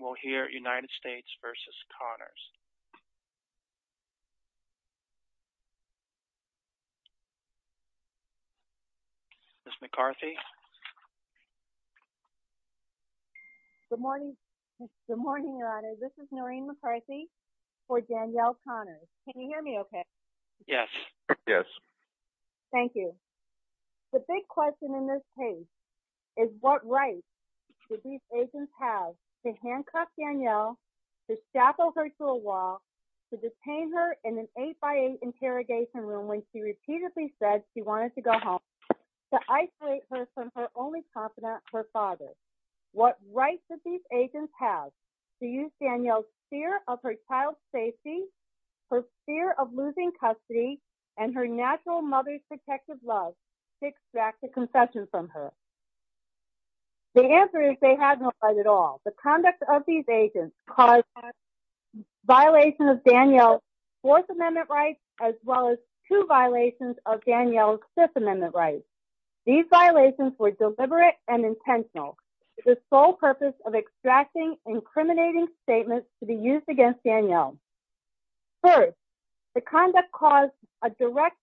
will hear United States v. Connors. Ms. McCarthy? Good morning. Good morning, Your Honor. This is Noreen McCarthy for Danielle Connors. Can you hear me okay? Yes. Yes. Thank you. The big question in this case is what rights did these agents have to handcuff Danielle, to shackle her to a wall, to detain her in an 8x8 interrogation room when she repeatedly said she wanted to go home, to isolate her from her only confidant, her father? What rights did these agents have to use Danielle's fear of her child's safety, her fear of losing custody, and her natural mother's protective love to extract a confession from her? The answer is they had no rights at all. The conduct of these agents caused a violation of Danielle's Fourth Amendment rights as well as two violations of Danielle's Fifth Amendment rights. These violations were deliberate and intentional with the sole purpose of extracting incriminating statements to be used against Danielle. First, the conduct caused a direct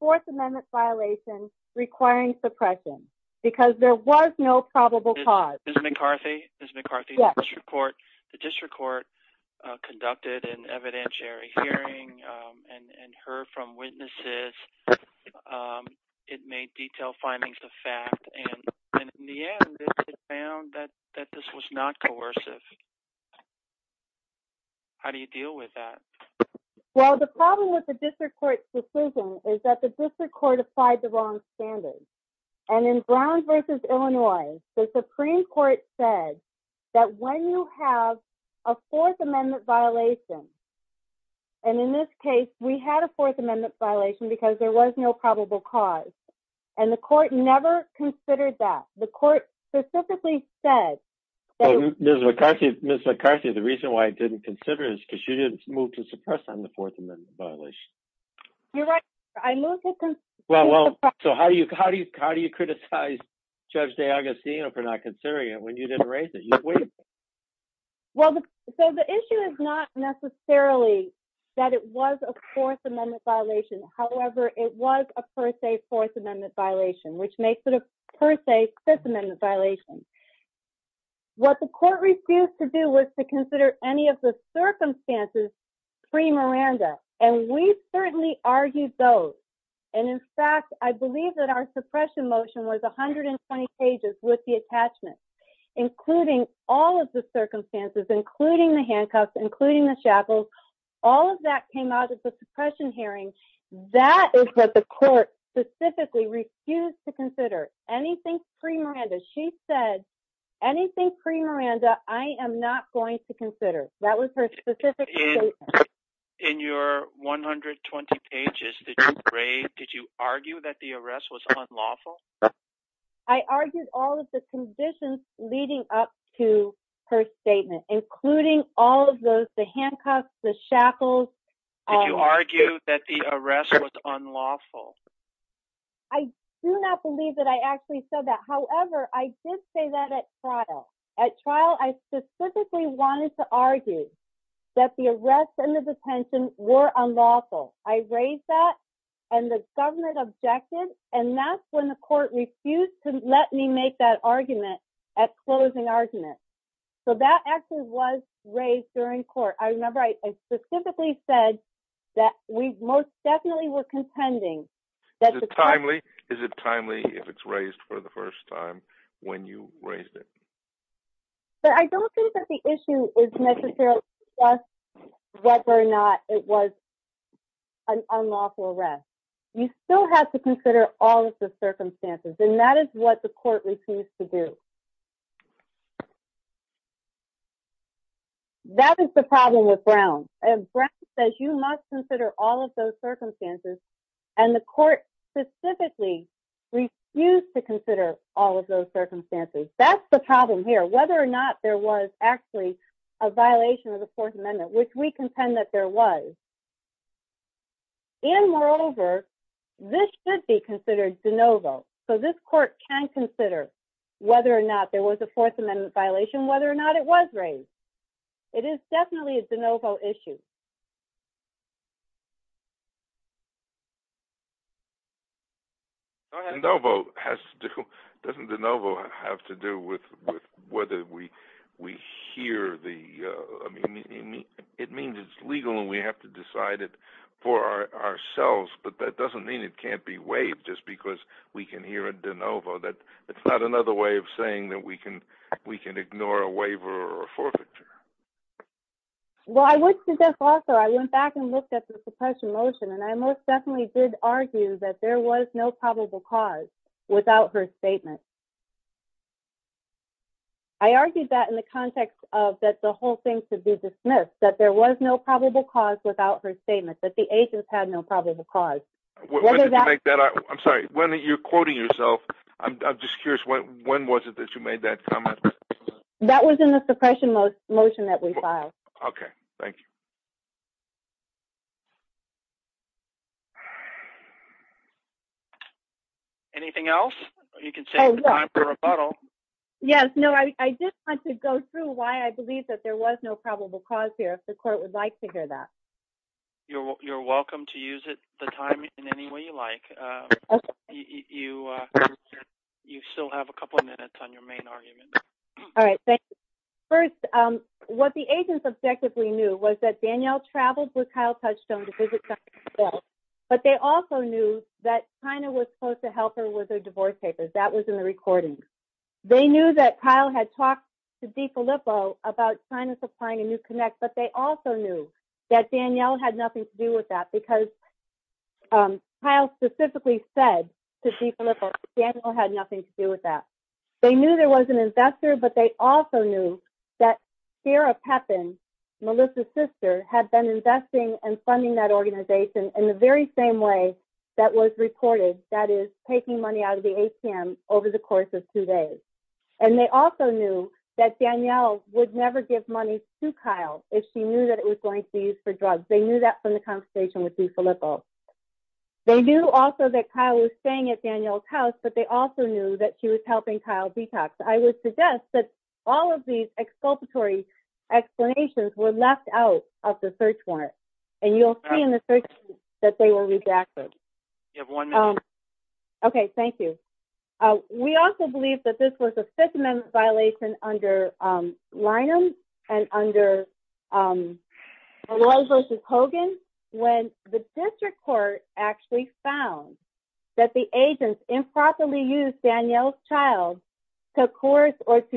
Fourth Amendment violation requiring suppression because there was no probable cause. Ms. McCarthy? Ms. McCarthy? Yes. The district court conducted an evidentiary hearing and heard from witnesses. It made detailed findings of fact, and in the end, it found that this was not coercive. How do you deal with that? Well, the problem with the district court's decision is that the district court applied the wrong standards. And in Brown v. Illinois, the Supreme Court said that when you have a Fourth Amendment violation, and in this case, we had a Fourth Amendment violation because there was no probable cause, and the court never considered that. The court specifically said that— Ms. McCarthy, the reason why it didn't consider it is because you didn't move to suppress on the Fourth Amendment violation. You're right. I moved to— Well, so how do you criticize Judge D'Agostino for not considering it when you didn't raise it? You waived it. Well, so the issue is not necessarily that it was a Fourth Amendment violation, however, it was a per se Fourth Amendment violation, which makes it a per se Fifth Amendment violation. What the court refused to do was to consider any of the circumstances pre-Miranda. And we certainly argued those. And in fact, I believe that our suppression motion was 120 pages with the attachments, including all of the circumstances, including the handcuffs, including the shackles. All of that came out of the suppression hearing. That is what the court specifically refused to consider, anything pre-Miranda. She said, anything pre-Miranda, I am not going to consider. That was her specific statement. In your 120 pages that you braved, did you argue that the arrest was unlawful? I argued all of the conditions leading up to her statement, including all of those, the handcuffs, the shackles, all of that. Did you argue that the arrest was unlawful? I do not believe that I actually said that. However, I did say that at trial. At trial, I specifically wanted to argue that the arrest and the detention were unlawful. I raised that, and the government objected. And that's when the court refused to let me make that argument at closing argument. So that actually was raised during court. I remember I specifically said that we most definitely were contending that the court- Is it timely? Is it timely if it's raised for the first time when you raised it? But I don't think that the issue is necessarily just whether or not it was an unlawful arrest. You still have to consider all of the circumstances, and that is what the court refused to do. That is the problem with Brown. Brown says you must consider all of those circumstances, and the court specifically refused to consider all of those circumstances. That's the problem here, whether or not there was actually a violation of the Fourth Amendment, which we contend that there was. And moreover, this should be considered de novo. So this court can consider whether or not there was a Fourth Amendment violation, whether or not it was raised. It is definitely a de novo issue. De novo has to- Doesn't de novo have to do with whether we hear the- It means it's legal and we have to decide it for ourselves, but that doesn't mean it can't be waived just because we can hear a de novo. It's not another way of saying that we can ignore a waiver or a forfeiture. Well, I went to this also, I went back and looked at the suppression motion, and I most definitely did argue that there was no probable cause without her statement. I argued that in the context of that the whole thing should be dismissed, that there was no probable cause without her statement, that the agents had no probable cause. When did you make that- I'm sorry, when you're quoting yourself, I'm just curious, when was it that you made that comment? That was in the suppression motion that we filed. Okay, thank you. Anything else? You can save the time for rebuttal. Yes, no, I just want to go through why I believe that there was no probable cause here, if the court would like to hear that. You're welcome to use the time in any way you like. You still have a couple of minutes on your main argument. All right, thank you. First, what the agents objectively knew was that Danielle traveled with Kyle Touchstone to visit someone in Brazil, but they also knew that Chyna was supposed to help her with her divorce papers. That was in the recording. They knew that Kyle had talked to DeFilippo about Chyna supplying a new connect, but they also knew that Danielle had nothing to do with that, because Kyle specifically said to DeFilippo, Danielle had nothing to do with that. They knew there was an investor, but they also knew that Sarah Pepin, Melissa's sister, had been investing and funding that organization in the very same way that was recorded, that is, taking money out of the ATM over the course of two days. And they also knew that Danielle would never give money to Kyle if she knew that it was going to be used for drugs. They knew that from the conversation with DeFilippo. They knew also that Kyle was staying at Danielle's house, but they also knew that she was helping Kyle detox. I would suggest that all of these exculpatory explanations were left out of the search warrant, and you'll see in the search that they were rejected. You have one minute. Okay, thank you. We also believe that this was a Fifth Amendment violation under Linum and under Maloy versus Hogan, when the district court actually found that the agents improperly used Danielle's child to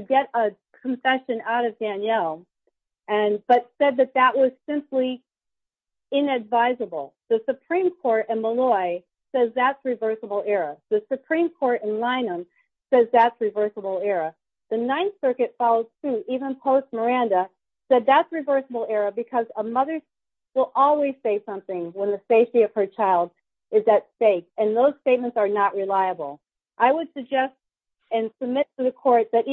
get a confession out of Danielle, but said that that was simply inadvisable. The Supreme Court in Maloy says that's reversible error. The Supreme Court in Linum says that's reversible error. The Ninth Circuit followed suit even post-Miranda said that's reversible error because a mother will always say something when the safety of her child is at stake, and those statements are not reliable. I would suggest and submit to the court that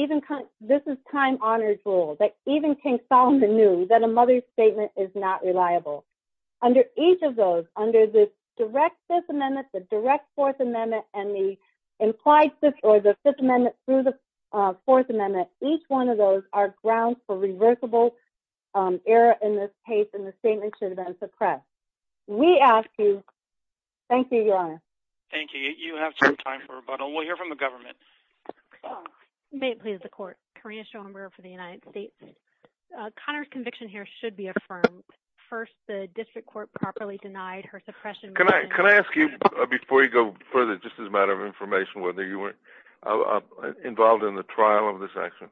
this is time-honored rule, that even King Solomon knew that a mother's statement is not reliable. Under each of those, under the direct Fifth Amendment, the direct Fourth Amendment, and the implied Fifth or the Fifth Amendment through the Fourth Amendment, each one of those are grounds for reversible error in this case, and the statement should have been suppressed. We ask you. Thank you, Your Honor. Thank you. You have some time for rebuttal. We'll hear from the government. May it please the court. Karina Schoenberger for the United States. Connors' conviction here should be affirmed. First, the district court properly denied her suppression motion. Can I ask you, before you go further, just as a matter of information, whether you were involved in the trial of this action?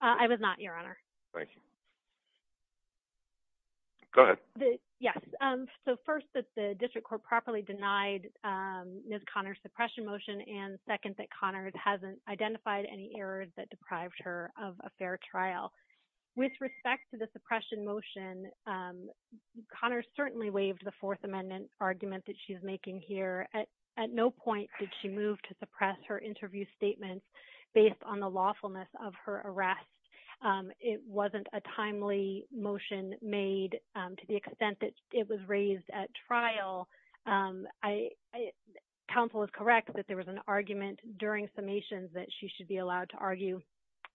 I was not, Your Honor. Thank you. Go ahead. Yes, so first that the district court properly denied Ms. Connors' suppression motion, and second that Connors hasn't identified any errors that deprived her of a fair trial. With respect to the suppression motion, Connors certainly waived the Fourth Amendment argument that she's making here. At no point did she move to suppress her interview statement based on the lawfulness of her arrest. It wasn't a timely motion made to the extent that it was raised at trial. Counsel is correct that there was an argument during summations that she should be allowed to argue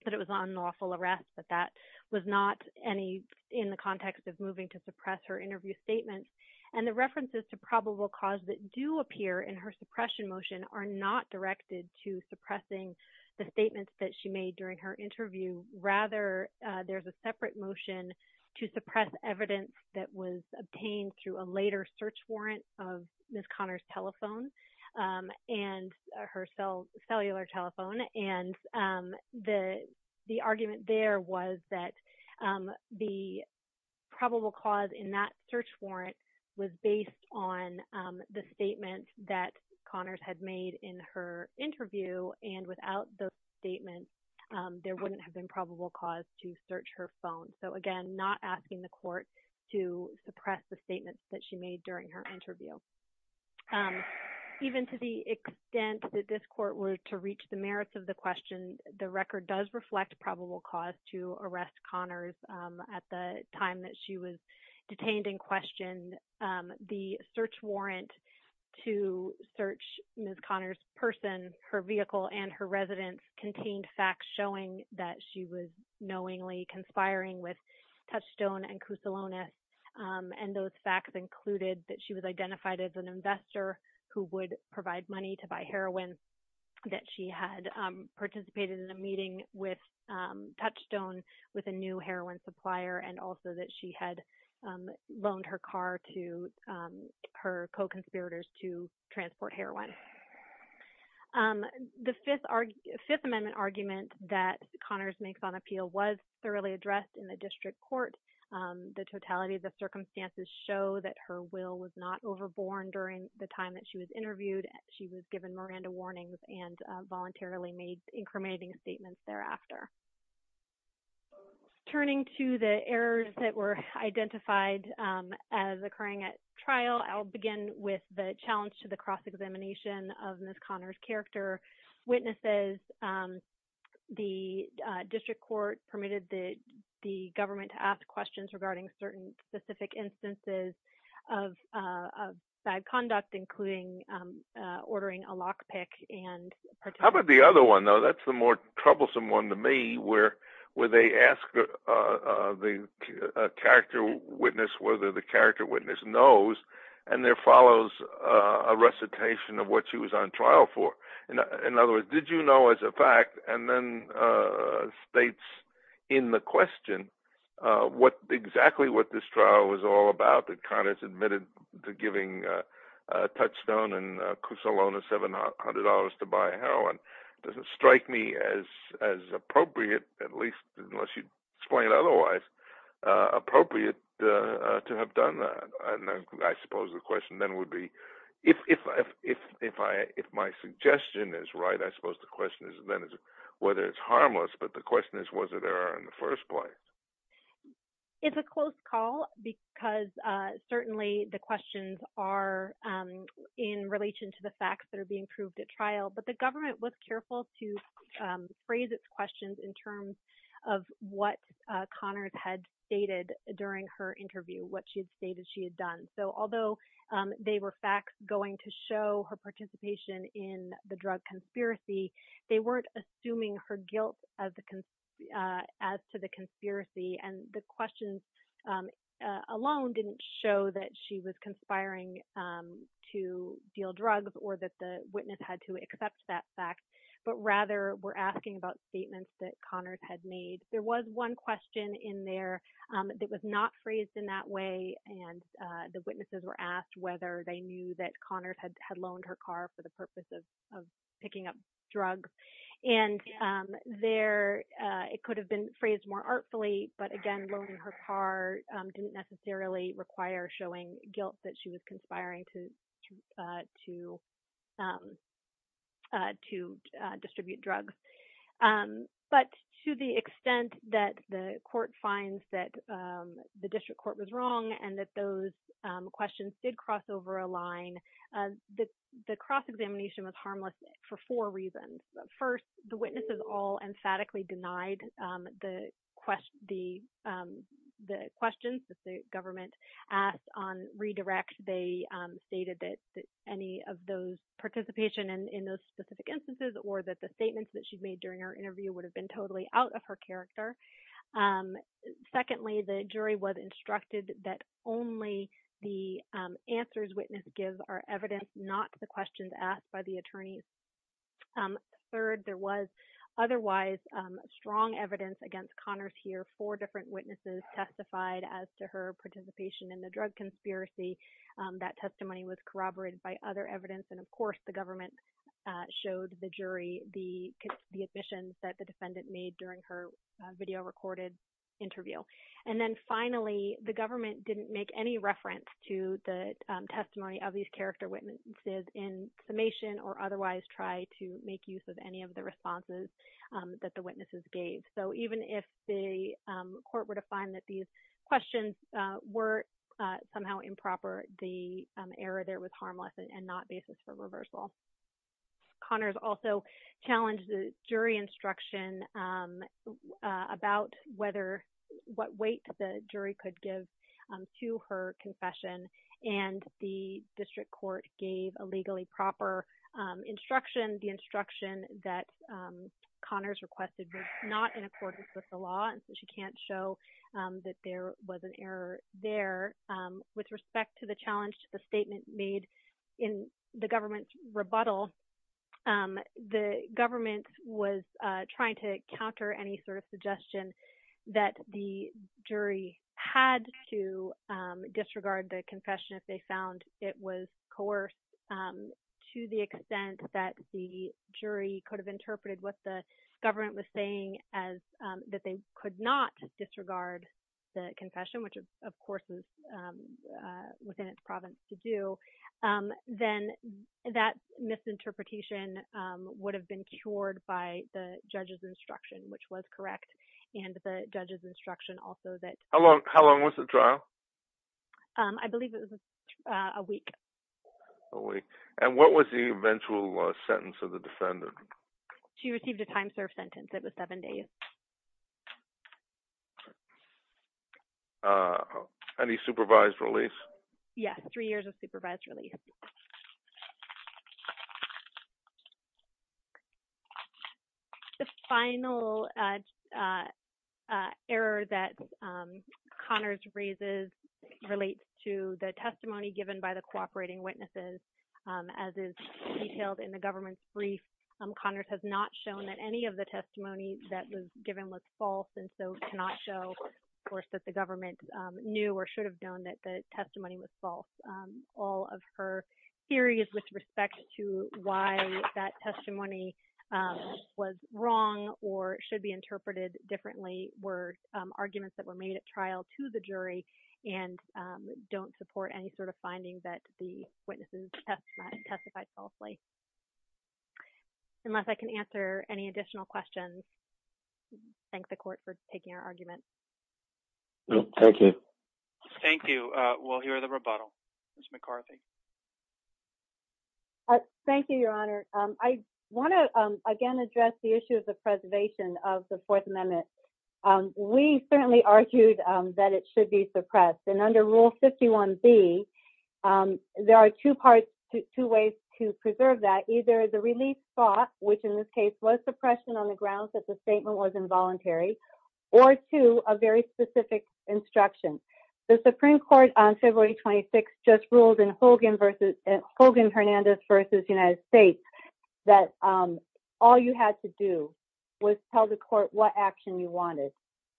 that it was unlawful arrest, but that was not any in the context of moving to suppress her interview statement. And the references to probable cause that do appear in her suppression motion are not directed to suppressing the statements that she made during her interview. Rather, there's a separate motion to suppress evidence that was obtained through a later search warrant of Ms. Connors' telephone and her cellular telephone. And the argument there was that the probable cause in that search warrant was based on the statement that Connors had made in her interview. And without those statements, there wouldn't have been probable cause to search her phone. So again, not asking the court to suppress the statements that she made during her interview. Even to the extent that this court were to reach the merits of the question, the record does reflect probable cause to arrest Connors at the time that she was detained in question. The search warrant to search Ms. Connors' person, her vehicle, and her residence contained facts showing that she was knowingly conspiring with Touchstone and Kousalonis. And those facts included that she was identified as an investor who would provide money to buy heroin, that she had participated in a meeting with Touchstone with a new heroin supplier, and also that she had loaned her car to her co-conspirators to transport heroin. The Fifth Amendment argument that Connors makes on appeal was thoroughly addressed in the district court. The totality of the circumstances show that her will was not overborne during the time that she was interviewed. She was given Miranda warnings and voluntarily made incriminating statements thereafter. Turning to the errors that were identified as occurring at trial, I'll begin with the cross-examination of Ms. Connors' character. Witnesses, the district court permitted the government to ask questions regarding certain specific instances of bad conduct, including ordering a lockpick. How about the other one, though? That's the more troublesome one to me, where they ask the character witness whether the recitation of what she was on trial for. In other words, did you know as a fact? And then states in the question exactly what this trial was all about, that Connors admitted to giving Touchstone and Cusalona $700 to buy heroin. It doesn't strike me as appropriate, at least unless you explain it otherwise, appropriate to have done that. I suppose the question then would be, if my suggestion is right, I suppose the question is then whether it's harmless. But the question is, was it error in the first place? It's a close call because certainly the questions are in relation to the facts that are being proved at trial. But the government was careful to phrase its questions in terms of what Connors had stated during her interview, what she had stated she had done. So although they were facts going to show her participation in the drug conspiracy, they weren't assuming her guilt as to the conspiracy. And the questions alone didn't show that she was conspiring to deal drugs or that the witness had to accept that fact, but rather were asking about statements that Connors had made. There was one question in there that was not phrased in that way, and the witnesses were asked whether they knew that Connors had loaned her car for the purpose of picking up drugs. And it could have been phrased more artfully, but again, loaning her car didn't necessarily require showing guilt that she was conspiring to distribute drugs. But to the extent that the court finds that the district court was wrong and that those questions did cross over a line, the cross-examination was harmless for four reasons. First, the witnesses all emphatically denied the questions that the government asked on redirect. They stated that any of those participation in those specific instances or that the statements that she made during her interview would have been totally out of her character. Secondly, the jury was instructed that only the answers witnesses give are evidence, not the questions asked by the attorneys. Third, there was otherwise strong evidence against Connors here. Four different witnesses testified as to her participation in the drug conspiracy. That testimony was corroborated by other evidence, and of course, the government showed the jury the admissions that the defendant made during her video recorded interview. And then finally, the government didn't make any reference to the testimony of these character witnesses in summation or otherwise try to make use of any of the responses that the witnesses gave. So even if the court were to find that these questions were somehow improper, the error there was harmless and not basis for reversal. Connors also challenged the jury instruction about what weight the jury could give to her confession, and the district court gave a legally proper instruction. The instruction that Connors requested was not in accordance with the law, and so she can't show that there was an error there. With respect to the challenge to the statement made in the government's rebuttal, the government was trying to counter any sort of suggestion that the jury had to disregard the confession if they found it was coerced to the extent that the jury could have interpreted what the government was saying as that they could not disregard the confession, which of course was within its province to do, then that misinterpretation would have been cured by the judge's instruction, which was correct, and the judge's instruction also that... How long was the trial? I believe it was a week. A week. And what was the eventual sentence of the defendant? She received a time served sentence. It was seven days. Okay. Any supervised release? Yes, three years of supervised release. The final error that Connors raises relates to the testimony given by the cooperating witnesses, as is detailed in the government's brief. Connors has not shown that any of the testimony that was given was false and so cannot show, of course, that the government knew or should have known that the testimony was false. All of her theories with respect to why that testimony was wrong or should be interpreted differently were arguments that were made at trial to the jury and don't support any sort of finding that the witnesses testified falsely. Unless I can answer any additional questions, I thank the court for taking our argument. Thank you. Thank you. We'll hear the rebuttal. Ms. McCarthy. Thank you, Your Honor. I want to, again, address the issue of the preservation of the Fourth Amendment. We certainly argued that it should be suppressed. And under Rule 51B, there are two ways to preserve that. Either the relief spot, which in this case was suppression on the grounds that the statement was involuntary, or two, a very specific instruction. The Supreme Court on February 26th just ruled in Hogan-Hernandez v. United States that all you had to do was tell the court what action you wanted.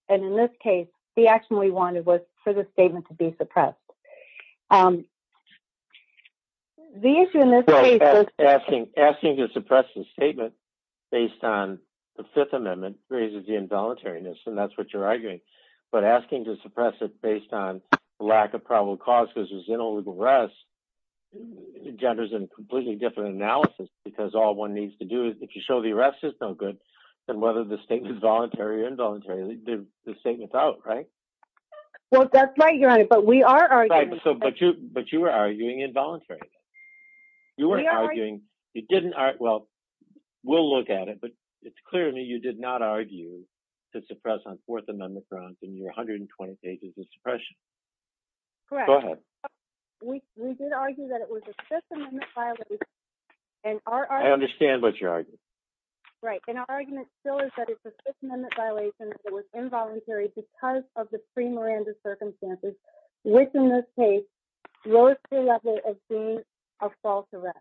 And in this case, the action we wanted was for the statement to be suppressed. So asking to suppress the statement based on the Fifth Amendment raises the involuntariness, and that's what you're arguing. But asking to suppress it based on lack of probable cause because there's no legal rest genders in a completely different analysis, because all one needs to do is, if you show the arrest is no good, then whether the statement is voluntary or involuntary, the statement's out, right? Well, that's right, Your Honor. But we are arguing. Right, but you were arguing involuntary. You weren't arguing. You didn't argue. Well, we'll look at it, but it's clear to me you did not argue to suppress on Fourth Amendment grounds in your 120 pages of suppression. Correct. Go ahead. We did argue that it was a Fifth Amendment violation, and our argument- I understand what you're arguing. Right, and our argument still is that it's a Fifth Amendment violation that was involuntary because of the pre-Miranda circumstances, which, in this case, rose to the level of being a false arrest,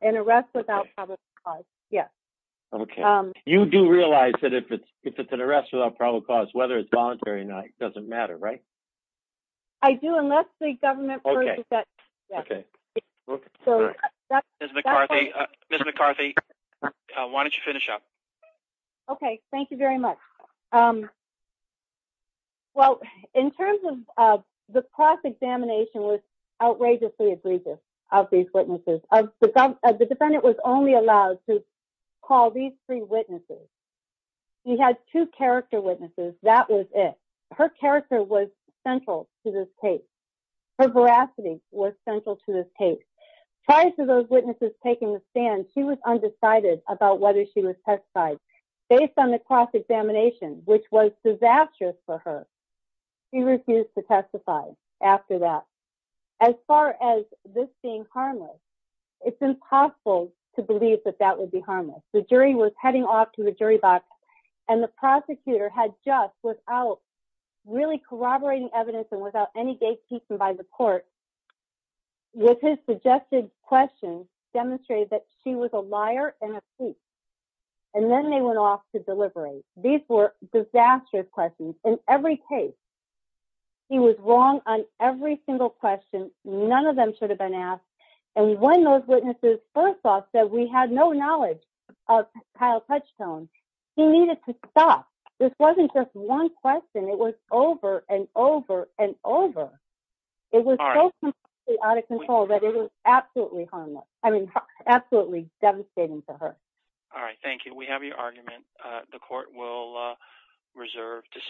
an arrest without probable cause. Yes. Okay. You do realize that if it's an arrest without probable cause, whether it's voluntary or not, it doesn't matter, right? I do, unless the government- Okay. Okay. Ms. McCarthy, Ms. McCarthy, why don't you finish up? Okay, thank you very much. Well, in terms of the cross-examination was outrageously egregious of these witnesses. The defendant was only allowed to call these three witnesses. He had two character witnesses. That was it. Her character was central to this case. Her veracity was central to this case. Prior to those witnesses taking the stand, she was undecided about whether she was testified. Based on the cross-examination, which was disastrous for her, she refused to testify after that. As far as this being harmless, it's impossible to believe that that would be harmless. The jury was heading off to the jury box, and the prosecutor had just, without really corroborating evidence and without any gatekeeping by the court, with his suggested questions, demonstrated that she was a liar and a thief. And then they went off to deliberate. These were disastrous questions in every case. He was wrong on every single question. None of them should have been asked. And when those witnesses first off said we had no knowledge of Kyle Touchstone, he needed to stop. This wasn't just one question. It was over and over and over. It was so completely out of control that it was absolutely harmless. I mean, absolutely devastating for her. All right. Thank you. We have your argument. The court will reserve decision.